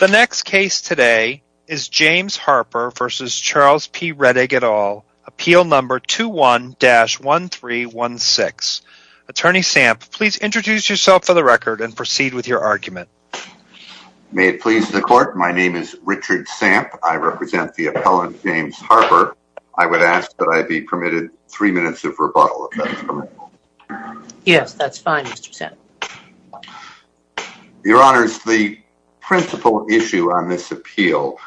The next case today is James Harper v. Charles P. Rettig, et al., appeal number 21-1316. Attorney Samp, please introduce yourself for the record and proceed with your argument. May it please the court, my name is Richard Samp. I represent the appellant James Harper. I would ask that I be permitted three minutes of rebuttal, if that's permissible. Yes, that's fine, Mr. Samp. Your Honors, the principal issue on this appeal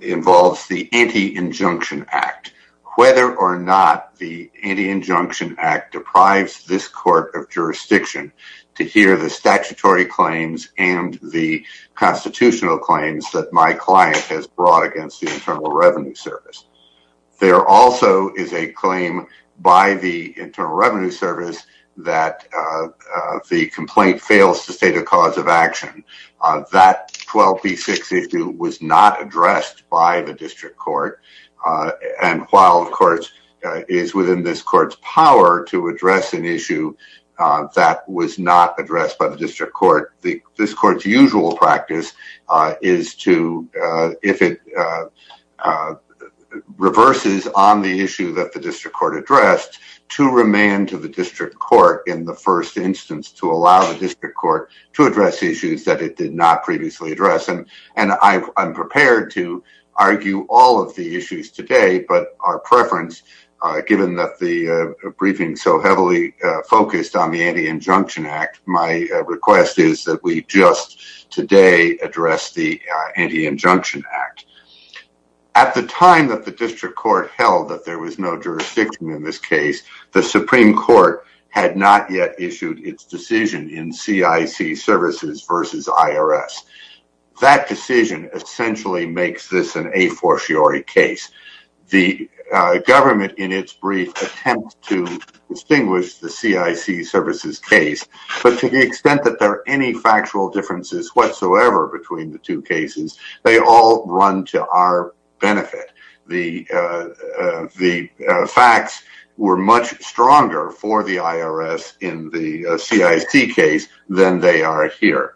involves the Anti-Injunction Act. Whether or not the Anti-Injunction Act deprives this court of jurisdiction to hear the statutory claims and the constitutional claims that my client has brought against the Internal Revenue Service. There also is a claim by the Internal Revenue Service that the complaint fails to state a cause of action. That 12b-6 issue was not addressed by the district court. And while, of course, it is within this court's power to address an issue that was not addressed by the district court. This court's usual practice is to, if it reverses on the issue that the district court addressed, to remand to the district court in the first instance to allow the district court to address issues that it did not previously address. And I'm prepared to argue all of the issues today. But our preference, given that the briefing so heavily focused on the Anti-Injunction Act, my request is that we just today address the Anti-Injunction Act. At the time that the district court held that there was no jurisdiction in this case, the Supreme Court had not yet issued its decision in CIC Services versus IRS. That decision essentially makes this an a fortiori case. The government in its brief attempt to distinguish the CIC Services case, but to the extent that there are any factual differences whatsoever between the two cases, they all run to our benefit. The facts were much stronger for the IRS in the CIC case than they are here.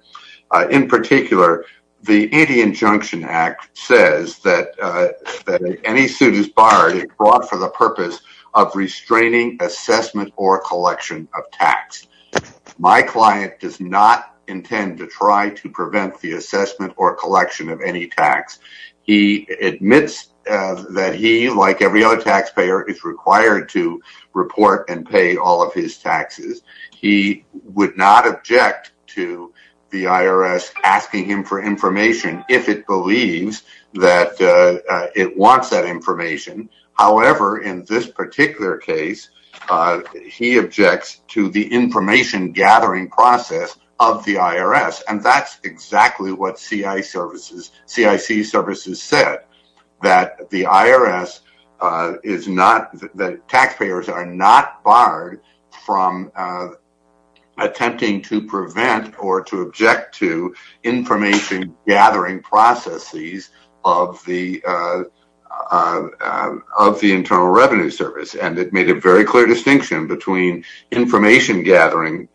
In particular, the Anti-Injunction Act says that any suit is barred if brought for the purpose of restraining assessment or collection of tax. My client does not intend to try to prevent the assessment or collection of any tax. He admits that he, like every other taxpayer, is required to report and pay all of his taxes. He would not object to the IRS asking him for information if it believes that it wants that information. However, in this particular case, he objects to the information-gathering process of the IRS. And that's exactly what CIC Services said, that the IRS is not, that taxpayers are not barred from attempting to prevent or to object to information-gathering processes of the Internal Revenue Service. And it made a very clear distinction between information-gathering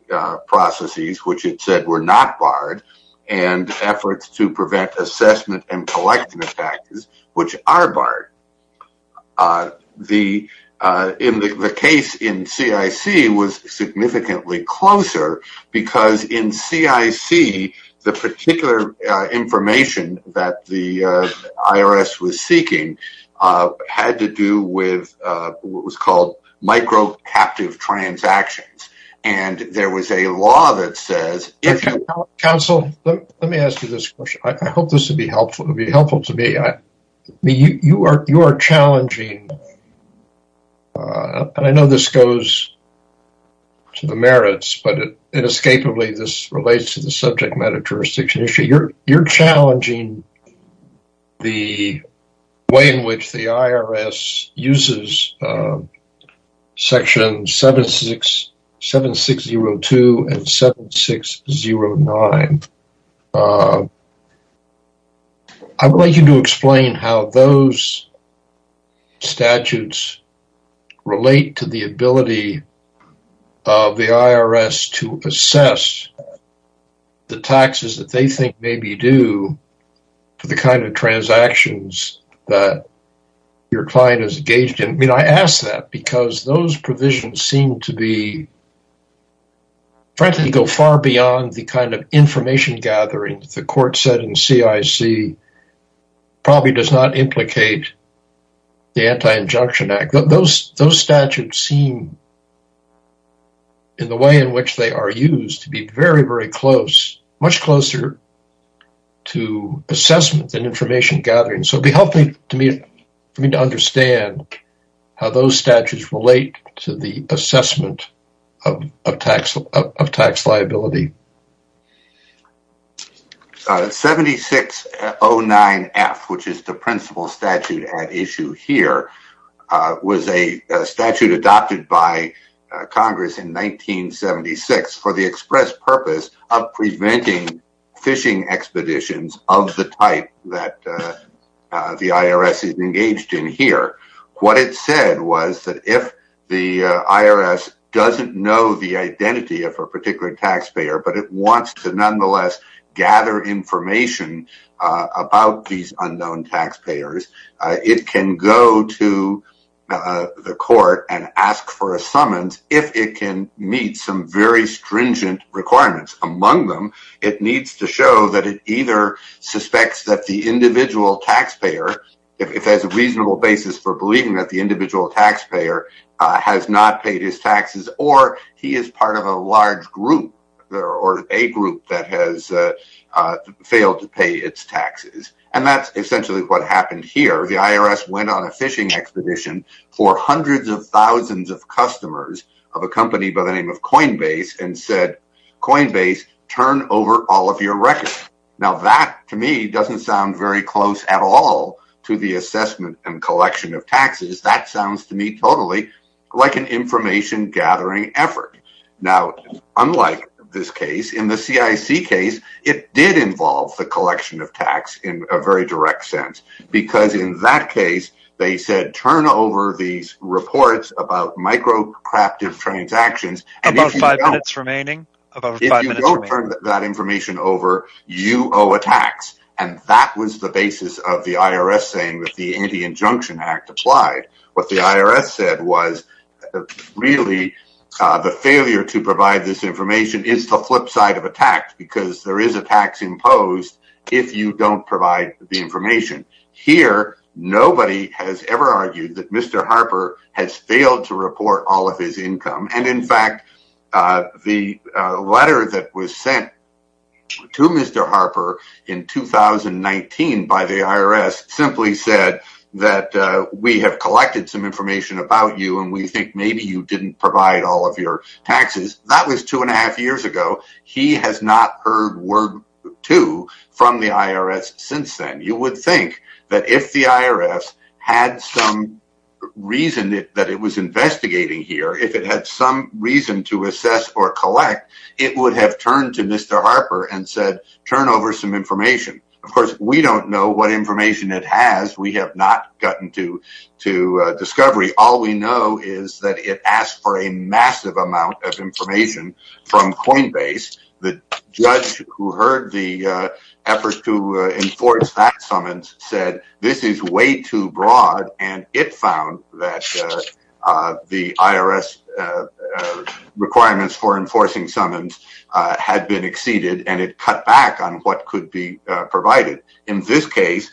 processes, which it said were not barred, and efforts to prevent assessment and collection of taxes, which are barred. The case in CIC was significantly closer because in CIC, the particular information that the IRS was seeking had to do with what was called micro-captive transactions. And there was a law that says… Counsel, let me ask you this question. I hope this will be helpful to me. You are challenging, and I know this goes to the merits, but inescapably this relates to the subject matter jurisdiction issue. You're challenging the way in which the IRS uses sections 7602 and 7609. I would like you to explain how those statutes relate to the ability of the IRS to assess the taxes that they think may be due to the kind of transactions that your client is engaged in. I ask that because those provisions seem to go far beyond the kind of information-gathering the court said in CIC probably does not implicate the Anti-Injunction Act. Those statutes seem, in the way in which they are used, to be very, very close, much closer to assessment than information-gathering. So it would be helpful for me to understand how those statutes relate to the assessment of tax liability. 7609F, which is the principal statute at issue here, was a statute adopted by Congress in 1976 for the express purpose of preventing fishing expeditions of the type that the IRS is engaged in here. What it said was that if the IRS doesn't know the identity of a particular taxpayer, but it wants to nonetheless gather information about these unknown taxpayers, it can go to the court and ask for a summons if it can meet some very stringent requirements. Among them, it needs to show that it either suspects that the individual taxpayer, if it has a reasonable basis for believing that the individual taxpayer has not paid his taxes, or he is part of a large group or a group that has failed to pay its taxes. And that's essentially what happened here. The IRS went on a fishing expedition for hundreds of thousands of customers of a company by the name of Coinbase and said, Coinbase, turn over all of your records. Now that, to me, doesn't sound very close at all to the assessment and collection of taxes. That sounds to me totally like an information-gathering effort. Now, unlike this case, in the CIC case, it did involve the collection of tax in a very direct sense because in that case, they said, turn over these reports about microcraftive transactions. If you don't turn that information over, you owe a tax. And that was the basis of the IRS saying that the Anti-Injunction Act applied. What the IRS said was, really, the failure to provide this information is the flip side of a tax because there is a tax imposed if you don't provide the information. Here, nobody has ever argued that Mr. Harper has failed to report all of his income. And, in fact, the letter that was sent to Mr. Harper in 2019 by the IRS simply said that we have collected some information about you and we think maybe you didn't provide all of your taxes. That was two and a half years ago. He has not heard word to from the IRS since then. You would think that if the IRS had some reason that it was investigating here, if it had some reason to assess or collect, it would have turned to Mr. Harper and said, turn over some information. Of course, we don't know what information it has. We have not gotten to discovery. All we know is that it asked for a massive amount of information from Coinbase. The judge who heard the effort to enforce that summons said this is way too broad and it found that the IRS requirements for enforcing summons had been exceeded and it cut back on what could be provided. In this case,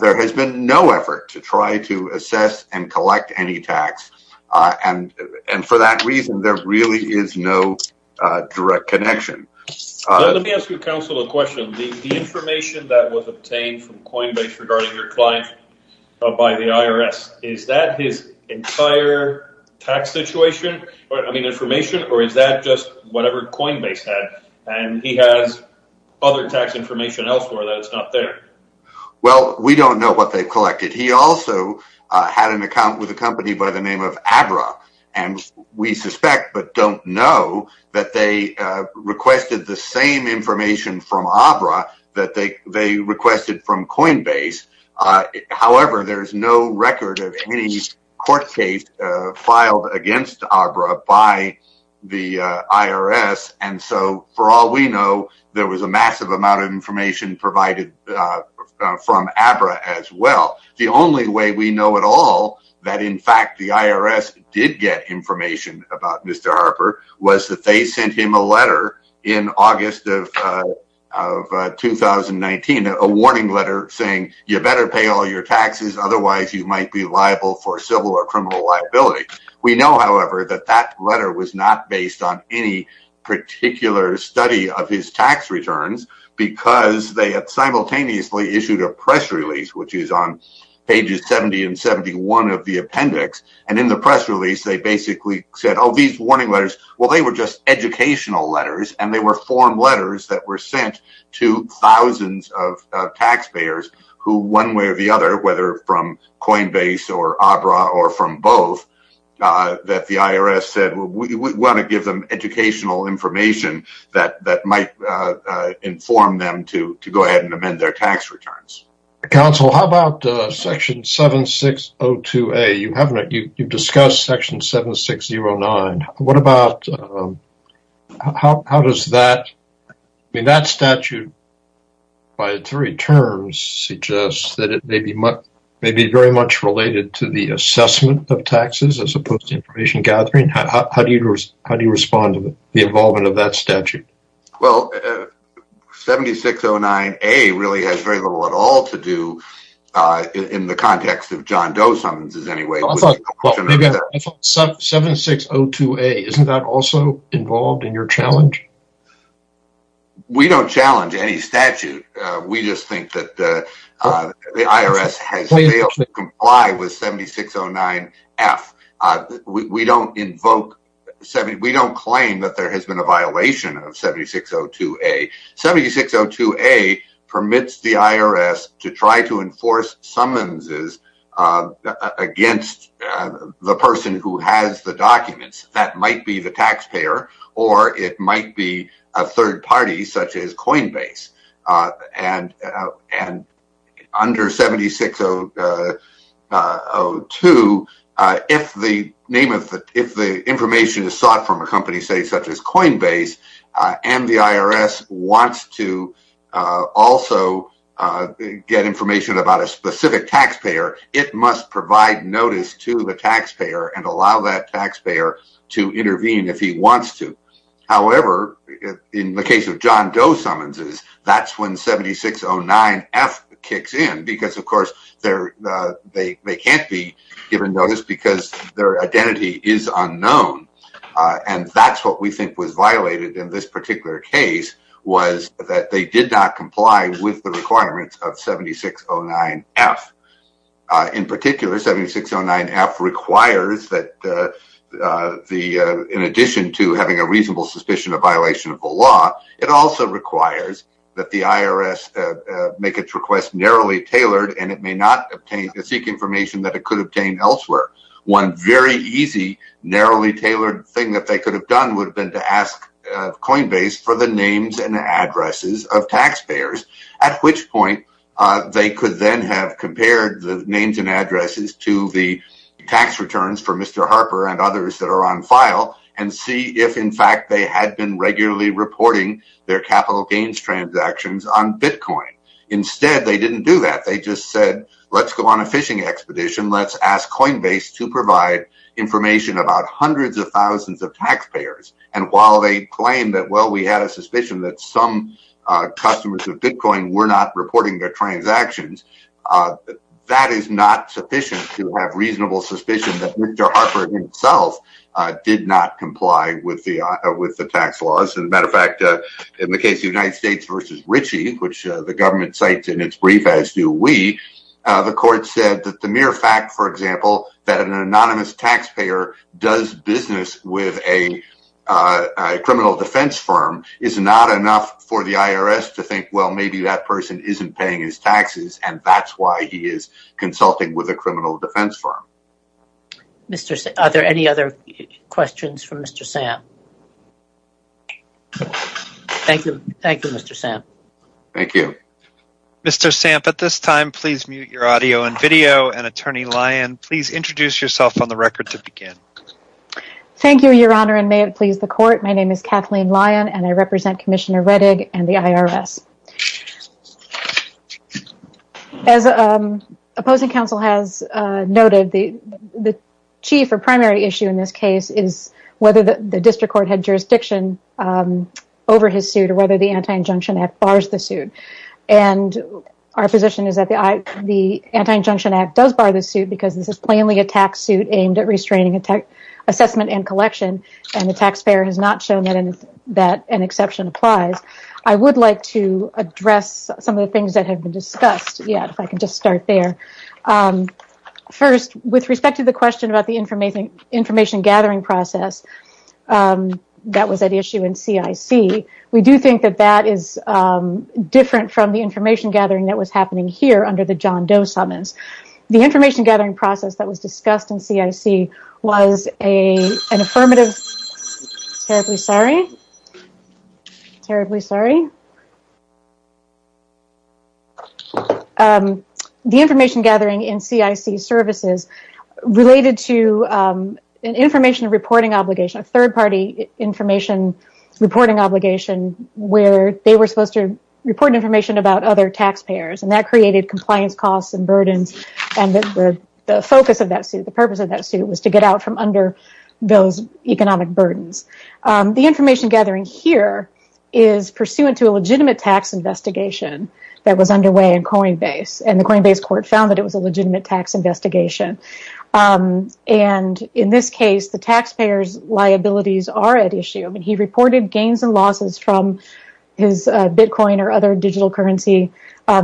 there has been no effort to try to assess and collect any tax. For that reason, there really is no direct connection. Let me ask you, counsel, a question. The information that was obtained from Coinbase regarding your client by the IRS, is that his entire tax situation? I mean information or is that just whatever Coinbase had and he has other tax information elsewhere that is not there? Well, we don't know what they collected. He also had an account with a company by the name of Abra and we suspect but don't know that they requested the same information from Abra that they requested from Coinbase. However, there is no record of any court case filed against Abra by the IRS. For all we know, there was a massive amount of information provided from Abra as well. The only way we know at all that in fact the IRS did get information about Mr. Harper was that they sent him a letter in August of 2019, a warning letter saying you better pay all your taxes otherwise you might be liable for civil or criminal liability. We know, however, that that letter was not based on any particular study of his tax returns because they simultaneously issued a press release which is on pages 70 and 71 of the appendix. In the press release, they basically said, oh, these warning letters, well, they were just educational letters and they were form letters that were sent to thousands of taxpayers who one way or the other, whether from Coinbase or Abra or from both, that the IRS said we want to give them educational information that might inform them to go ahead and amend their tax returns. Counsel, how about section 7602A? You discussed section 7609. What about, how does that, I mean that statute by three terms suggests that it may be very much related to the assessment of taxes as opposed to information gathering. How do you respond to the involvement of that statute? Well, 7609A really has very little at all to do in the context of John Doe sentences anyway. 7602A, isn't that also involved in your challenge? We don't challenge any statute. We just think that the IRS has failed to comply with 7609F. We don't invoke, we don't claim that there has been a violation of 7602A. 7602A permits the IRS to try to enforce summonses against the person who has the documents. That might be the taxpayer or it might be a third party such as Coinbase. And under 7602, if the information is sought from a company such as Coinbase and the IRS wants to also get information about a specific taxpayer, it must provide notice to the taxpayer and allow that taxpayer to intervene if he wants to. However, in the case of John Doe summonses, that's when 7609F kicks in because, of course, they can't be given notice because their identity is unknown. And that's what we think was violated in this particular case was that they did not comply with the requirements of 7609F. In particular, 7609F requires that in addition to having a reasonable suspicion of violation of the law, it also requires that the IRS make its request narrowly tailored and it may not seek information that it could obtain elsewhere. One very easy, narrowly tailored thing that they could have done would have been to ask Coinbase for the names and addresses of taxpayers, at which point they could then have compared the names and addresses to the tax returns for Mr. Harper and others that are on file and see if, in fact, they had been regularly reporting their capital gains transactions on Bitcoin. Instead, they didn't do that. They just said, let's go on a phishing expedition. Let's ask Coinbase to provide information about hundreds of thousands of taxpayers. And while they claim that, well, we had a suspicion that some customers of Bitcoin were not reporting their transactions, that is not sufficient to have reasonable suspicion that Mr. Harper himself did not comply with the tax laws. As a matter of fact, in the case of the United States v. Ritchie, which the government cites in its brief as do we, the court said that the mere fact, for example, that an anonymous taxpayer does business with a criminal defense firm is not enough for the IRS to think, well, maybe that person isn't paying his taxes and that's why he is consulting with a criminal defense firm. Are there any other questions for Mr. Samp? Thank you. Thank you, Mr. Samp. Thank you. Mr. Samp, at this time, please mute your audio and video. And Attorney Lyon, please introduce yourself on the record to begin. Thank you, Your Honor, and may it please the court. My name is Kathleen Lyon and I represent Commissioner Rettig and the IRS. As opposing counsel has noted, the chief or primary issue in this case is whether the district court had jurisdiction over his suit or whether the Anti-Injunction Act bars the suit. Our position is that the Anti-Injunction Act does bar the suit because this is plainly a tax suit aimed at restraining assessment and collection and the taxpayer has not shown that an exception applies. I would like to address some of the things that have been discussed. Yeah, if I can just start there. First, with respect to the question about the information gathering process that was at issue in CIC, we do think that that is different from the information gathering that was happening here under the John Doe summons. The information gathering process that was discussed in CIC was an affirmative Terribly sorry. Terribly sorry. The information gathering in CIC services related to an information reporting obligation, a third party information reporting obligation where they were supposed to report information about other taxpayers and that created compliance costs and burdens and the focus of that suit, the purpose of that suit was to get out from under those economic burdens. The information gathering here is pursuant to a legitimate tax investigation that was underway in Coinbase and the Coinbase court found that it was a legitimate tax investigation and in this case, the taxpayer's liabilities are at issue. He reported gains and losses from his Bitcoin or other digital currency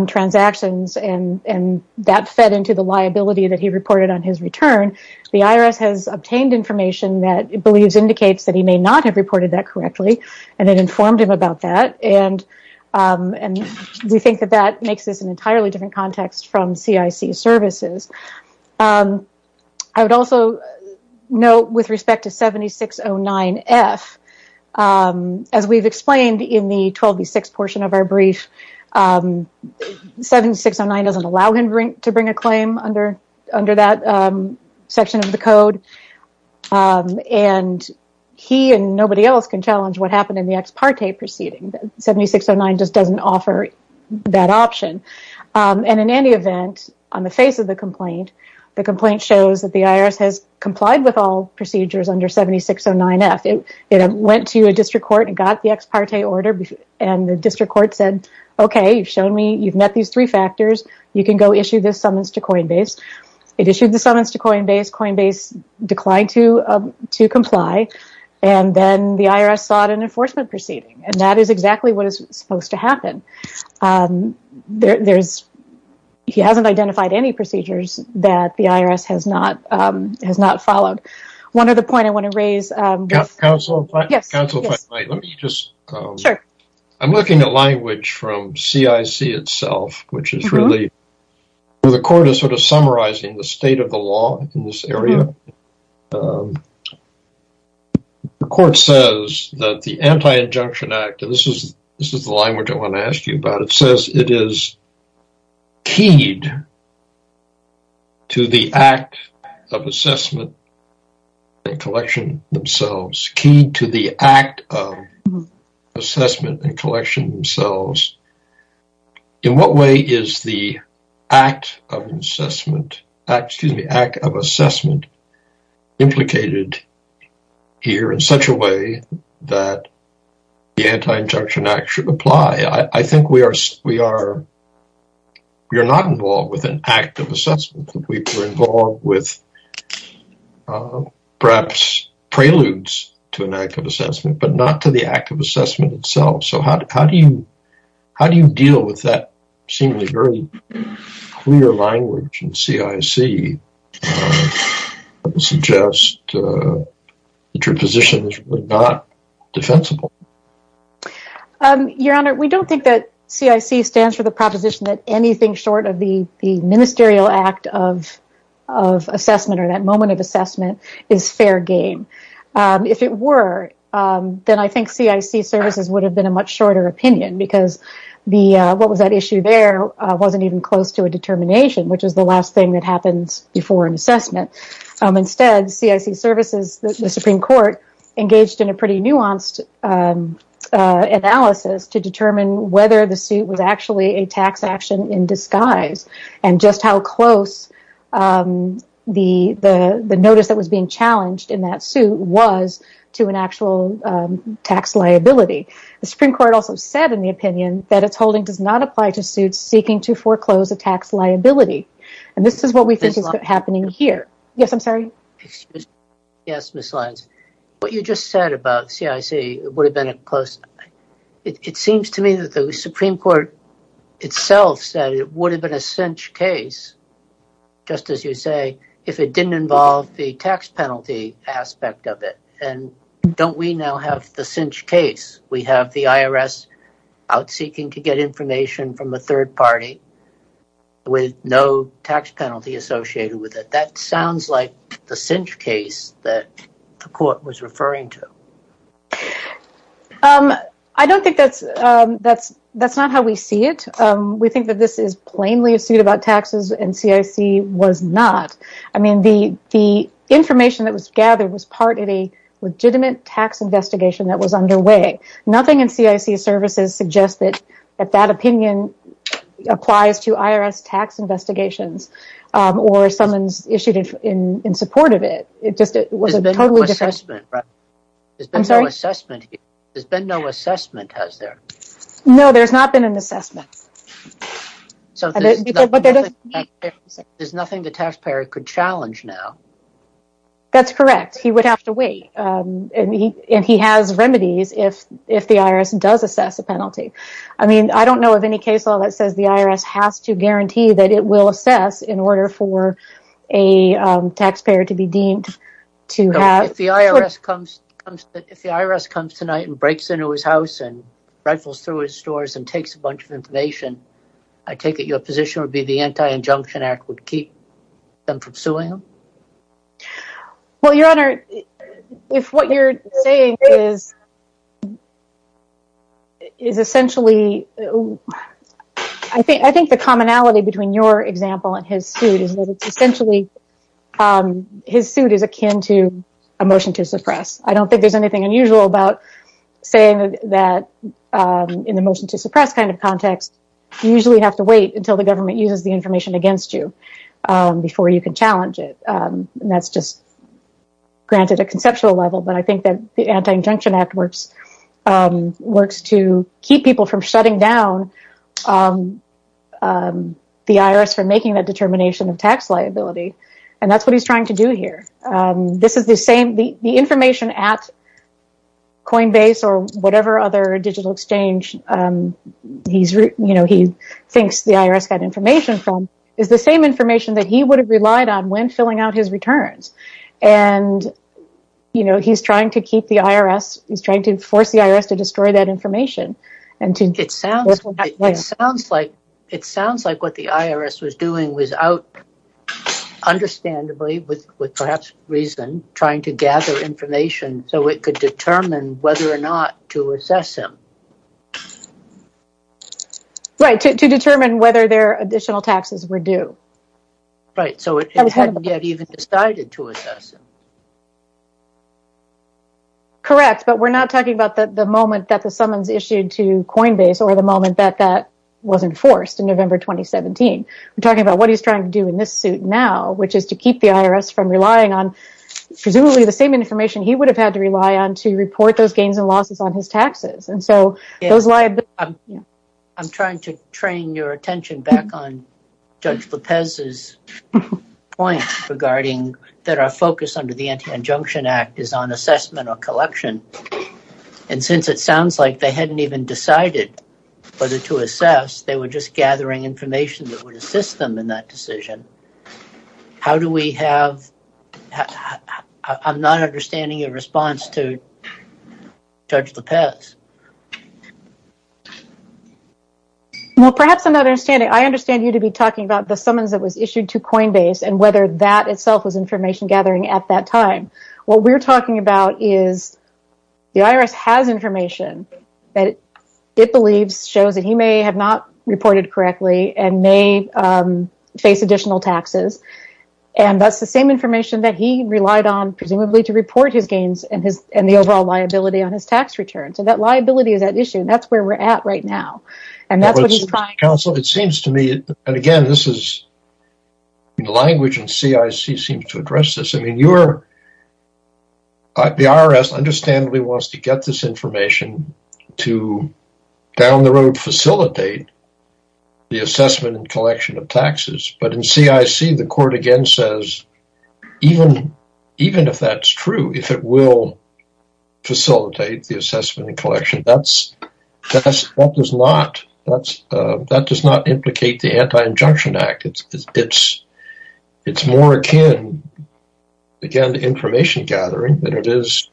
transactions and that fed into the liability that he reported on his return. The IRS has obtained information that it believes indicates that he may not have reported that correctly and it informed him about that and we think that that makes this an entirely different context from CIC services. I would also note with respect to 7609F, as we've explained in the 12B6 portion of our brief, 7609 doesn't allow him to bring a claim under that section of the code and he and nobody else can challenge what happened in the ex parte proceeding. 7609 just doesn't offer that option and in any event, on the face of the complaint, the complaint shows that the IRS has complied with all procedures under 7609F. It went to a district court and got the ex parte order and the district court said, okay, you've shown me, you've met these three factors, you can go issue this summons to Coinbase. It issued the summons to Coinbase, Coinbase declined to comply and then the IRS sought an enforcement proceeding and that is exactly what is supposed to happen. He hasn't identified any procedures that the IRS has not followed. One other point I want to raise. I'm looking at language from CIC itself, which is really where the court is sort of summarizing the state of the law in this area. The court says that the Anti-Injunction Act, and this is the line which I want to ask you about, it says it is keyed to the act of assessment and collection themselves, keyed to the act of assessment and collection themselves. In what way is the act of assessment implicated here in such a way that the Anti-Injunction Act should apply? I think we are not involved with an act of assessment, we are involved with perhaps preludes to an act of assessment, but not to the act of assessment itself. How do you deal with that seemingly very clear language in CIC that suggests that your position is not defensible? Your Honor, we don't think that CIC stands for the proposition that anything short of the ministerial act of assessment or that moment of assessment is fair game. If it were, then I think CIC services would have been a much shorter opinion because what was at issue there wasn't even close to a determination, which is the last thing that happens before an assessment. Instead, CIC services, the Supreme Court, engaged in a pretty nuanced analysis to determine whether the suit was actually a tax action in disguise and just how close the notice that was being challenged in that suit was to an actual tax liability. The Supreme Court also said in the opinion that its holding does not apply to suits seeking to foreclose a tax liability, and this is what we think is happening here. Yes, Ms. Lyons. What you just said about CIC, it seems to me that the Supreme Court itself said it would have been a cinch case, just as you say, if it didn't involve the tax penalty aspect of it, and don't we now have the cinch case? We have the IRS out seeking to get information from the third party with no tax penalty associated with it. That sounds like the cinch case that the court was referring to. I don't think that's how we see it. We think that this is plainly a suit about taxes and CIC was not. The information that was gathered was part of a legitimate tax investigation that was underway. Nothing in CIC's services suggests that that opinion applies to IRS tax investigations or someone's issued in support of it. There's been no assessment, has there? No, there's not been an assessment. There's nothing the taxpayer could challenge now. That's correct. He would have to wait, and he has remedies if the IRS does assess a penalty. I don't know of any case law that says the IRS has to guarantee that it will assess in order for a taxpayer to be deemed to have... Your Honor, if what you're saying is essentially... I think the commonality between your example and his suit is that essentially his suit is akin to a motion to suppress. I don't think there's anything unusual about saying that in the motion to suppress kind of context, you usually have to wait until the government uses the information against you before you can challenge it. That's just granted a conceptual level, but I think that the Anti-Injunction Act works to keep people from shutting down the IRS for making that determination of tax liability, and that's what he's trying to do here. The information at Coinbase or whatever other digital exchange he thinks the IRS got information from is the same information that he would have relied on when filling out his returns, and he's trying to force the IRS to destroy that information. It sounds like what the IRS was doing was out, understandably, with perhaps reason, trying to gather information so it could determine whether or not to assess him. Right, to determine whether their additional taxes were due. Right, so it hadn't yet even decided to assess him. Correct, but we're not talking about the moment that the summons issued to Coinbase or the moment that that was enforced in November 2017. We're talking about what he's trying to do in this suit now, which is to keep the IRS from relying on presumably the same information he would have had to rely on to report those gains and losses on his taxes. I'm trying to train your attention back on Judge Lopez's point regarding that our focus under the Anti-Injunction Act is on assessment or collection, and since it sounds like they hadn't even decided whether to assess, they were just gathering information that would assist them in that decision. I'm not understanding your response to Judge Lopez. Well, perhaps I'm not understanding. I understand you to be talking about the summons that was issued to Coinbase and whether that itself was information gathering at that time. What we're talking about is the IRS has information that it believes shows that he may have not reported correctly and may face additional taxes. And that's the same information that he relied on, presumably to report his gains and the overall liability on his tax return. So that liability is at issue, and that's where we're at right now. Counsel, it seems to me, and again, the language in CIC seems to address this. The IRS understandably wants to get this information to down the road facilitate the assessment and collection of taxes. But in CIC, the court again says, even if that's true, if it will facilitate the assessment and collection, that does not implicate the Anti-Injunction Act. It's more akin, again, to information gathering than it is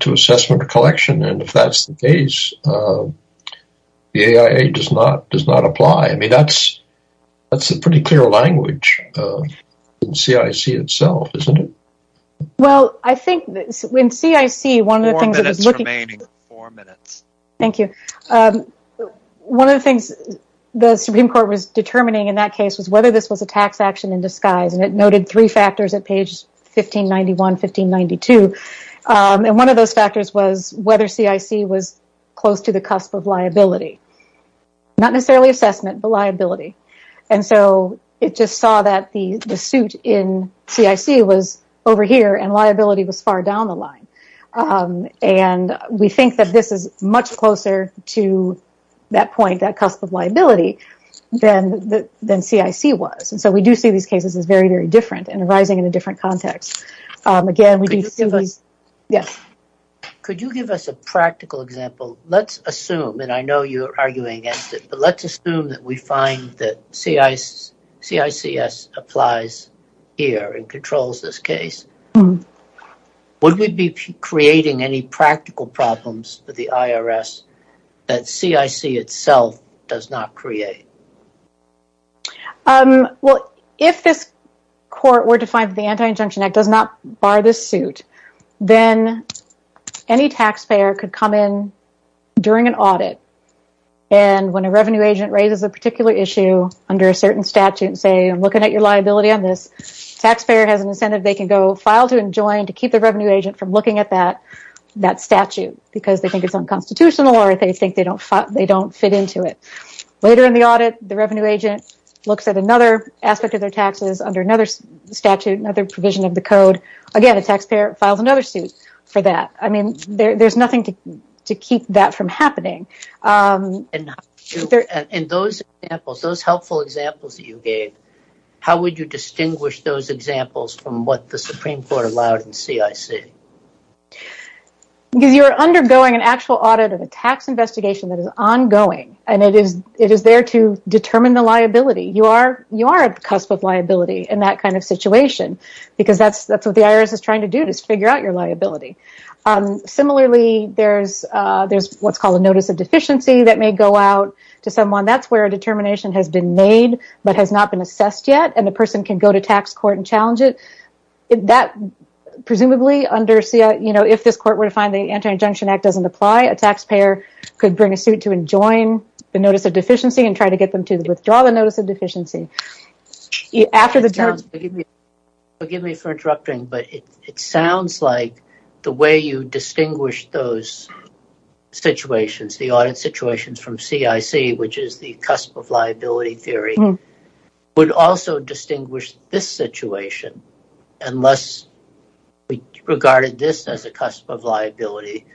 to assessment or collection. And if that's the case, the AIA does not apply. I mean, that's a pretty clear language in CIC itself, isn't it? Well, I think in CIC, one of the things the Supreme Court was determining in that case was whether this was a tax action in disguise. And it noted three factors at page 1591, 1592. And one of those factors was whether CIC was close to the cusp of liability. Not necessarily assessment, but liability. And so it just saw that the suit in CIC was over here and liability was far down the line. And we think that this is much closer to that point, that cusp of liability, than CIC was. And so we do see these cases as very, very different and arising in a different context. Could you give us a practical example? Let's assume, and I know you're arguing against it, but let's assume that we find that CICS applies here and controls this case. Would we be creating any practical problems for the IRS that CIC itself does not create? Well, if this court were to find that the Anti-Injunction Act does not bar this suit, then any taxpayer could come in during an audit. And when a revenue agent raises a particular issue under a certain statute, say, I'm looking at your liability on this, the taxpayer has an incentive, they can go file to enjoin to keep the revenue agent from looking at that statute. Because they think it's unconstitutional or they think they don't fit into it. Later in the audit, the revenue agent looks at another aspect of their taxes under another statute, another provision of the code. Again, the taxpayer files another suit for that. I mean, there's nothing to keep that from happening. And those helpful examples that you gave, how would you distinguish those examples from what the Supreme Court allowed in CIC? Because you're undergoing an actual audit of a tax investigation that is ongoing and it is there to determine the liability. You are at the cusp of liability in that kind of situation because that's what the IRS is trying to do is figure out your liability. Similarly, there's what's called a notice of deficiency that may go out to someone. That's where a determination has been made but has not been assessed yet and the person can go to tax court and challenge it. Presumably, if this court were to find the Anti-Injunction Act doesn't apply, a taxpayer could bring a suit to enjoin the notice of deficiency and try to get them to withdraw the notice of deficiency. Forgive me for interrupting, but it sounds like the way you distinguish those situations, the audit situations from CIC, which is the cusp of liability theory, would also distinguish this situation unless we regarded this as a cusp of liability.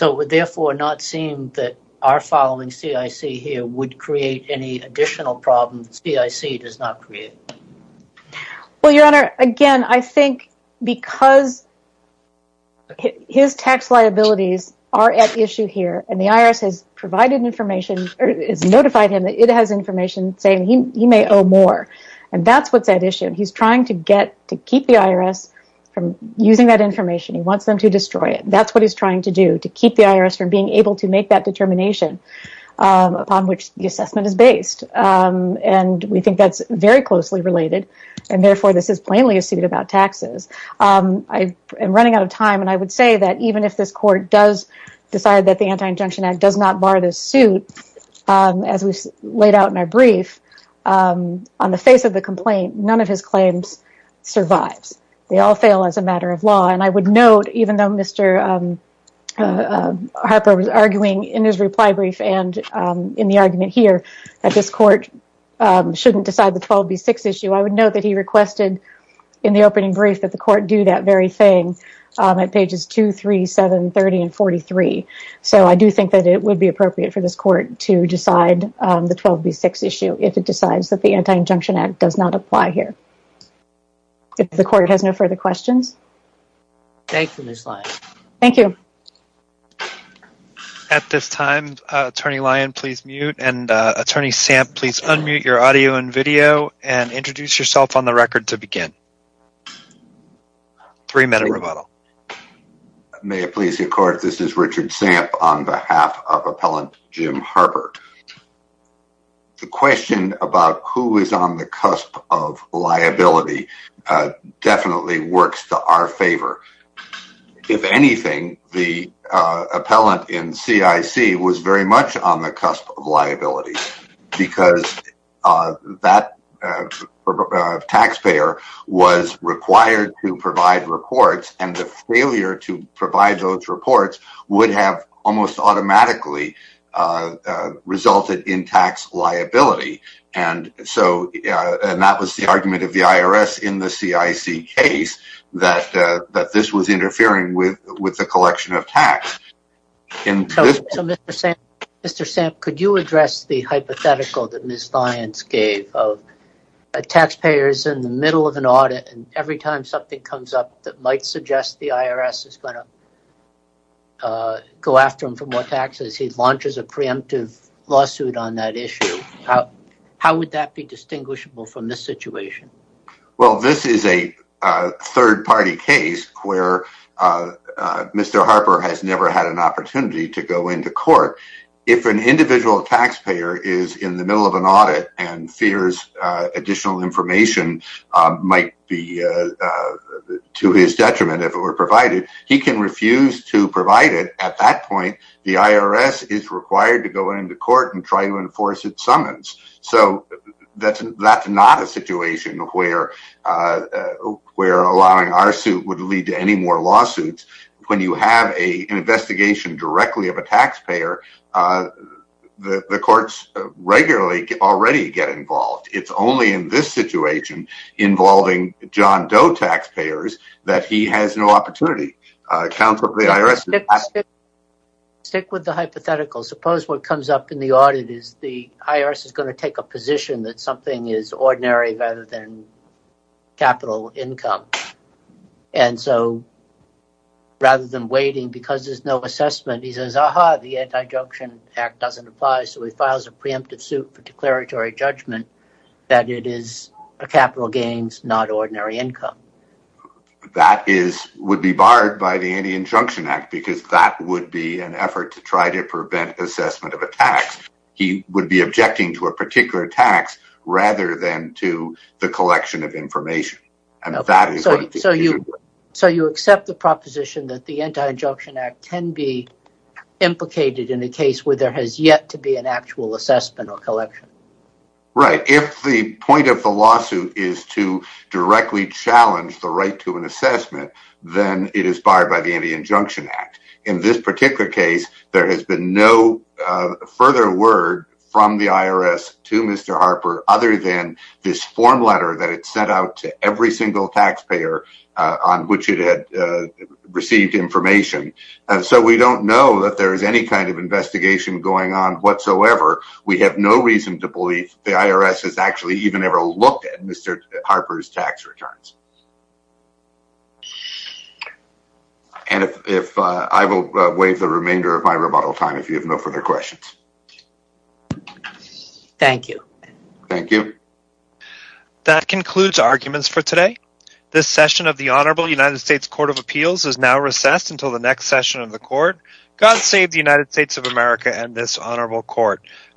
It would therefore not seem that our following CIC here would create any additional problems that CIC does not create. Well, Your Honor, again, I think because his tax liabilities are at issue here and the IRS has notified him that it has information saying he may owe more and that's what's at issue. He's trying to keep the IRS from using that information. He wants them to destroy it. That's what he's trying to do, to keep the IRS from being able to make that determination upon which the assessment is based. We think that's very closely related and therefore this is plainly a suit about taxes. I'm running out of time and I would say that even if this court does decide that the Anti-Injunction Act does not bar this suit, as we laid out in our brief, on the face of the complaint, none of his claims survives. They all fail as a matter of law and I would note, even though Mr. Harper was arguing in his reply brief and in the argument here that this court shouldn't decide the 12B6 issue, I would note that he requested in the opening brief that the court do that very thing at pages 2, 3, 7, 30, and 43. So I do think that it would be appropriate for this court to decide the 12B6 issue if it decides that the Anti-Injunction Act does not apply here. If the court has no further questions. Thank you, Ms. Lyon. Thank you. At this time, Attorney Lyon, please mute and Attorney Stamp, please unmute your audio and video and introduce yourself on the record to begin. Three minute rebuttal. May it please the court, this is Richard Stamp on behalf of Appellant Jim Harper. The question about who is on the cusp of liability definitely works to our favor. If anything, the appellant in CIC was very much on the cusp of liability because that taxpayer was required to provide reports and the failure to provide those reports would have almost automatically resulted in tax liability. And that was the argument of the IRS in the CIC case that this was interfering with the collection of tax. Mr. Stamp, could you address the hypothetical that Ms. Lyon gave of a taxpayer is in the middle of an audit and every time something comes up that might suggest the IRS is going to go after him for more taxes, he launches a preemptive lawsuit on that issue. How would that be distinguishable from this situation? Well, this is a third party case where Mr. Harper has never had an opportunity to go into court. If an individual taxpayer is in the middle of an audit and fears additional information might be to his detriment if it were provided, he can refuse to provide it. At that point, the IRS is required to go into court and try to enforce its summons. So that's not a situation where allowing our suit would lead to any more lawsuits. When you have an investigation directly of a taxpayer, the courts regularly already get involved. It's only in this situation involving John Doe taxpayers that he has no opportunity. Stick with the hypothetical. Suppose what comes up in the audit is the IRS is going to take a position that something is ordinary rather than capital income. And so rather than waiting because there's no assessment, he says, aha, the anti-junction act doesn't apply. So he files a preemptive suit for declaratory judgment that it is a capital gains, not ordinary income. That would be barred by the anti-injunction act because that would be an effort to try to prevent assessment of a tax. He would be objecting to a particular tax rather than to the collection of information. So you accept the proposition that the anti-injunction act can be implicated in a case where there has yet to be an actual assessment or collection? Right. If the point of the lawsuit is to directly challenge the right to an assessment, then it is barred by the anti-injunction act. In this particular case, there has been no further word from the IRS to Mr. Harper other than this form letter that it sent out to every single taxpayer on which it had received information. So we don't know that there is any kind of investigation going on whatsoever. We have no reason to believe the IRS has actually even ever looked at Mr. Harper's tax returns. And I will waive the remainder of my rebuttal time if you have no further questions. Thank you. Thank you. That concludes arguments for today. This session of the Honorable United States Court of Appeals is now recessed until the next session of the court. God save the United States of America and this honorable court.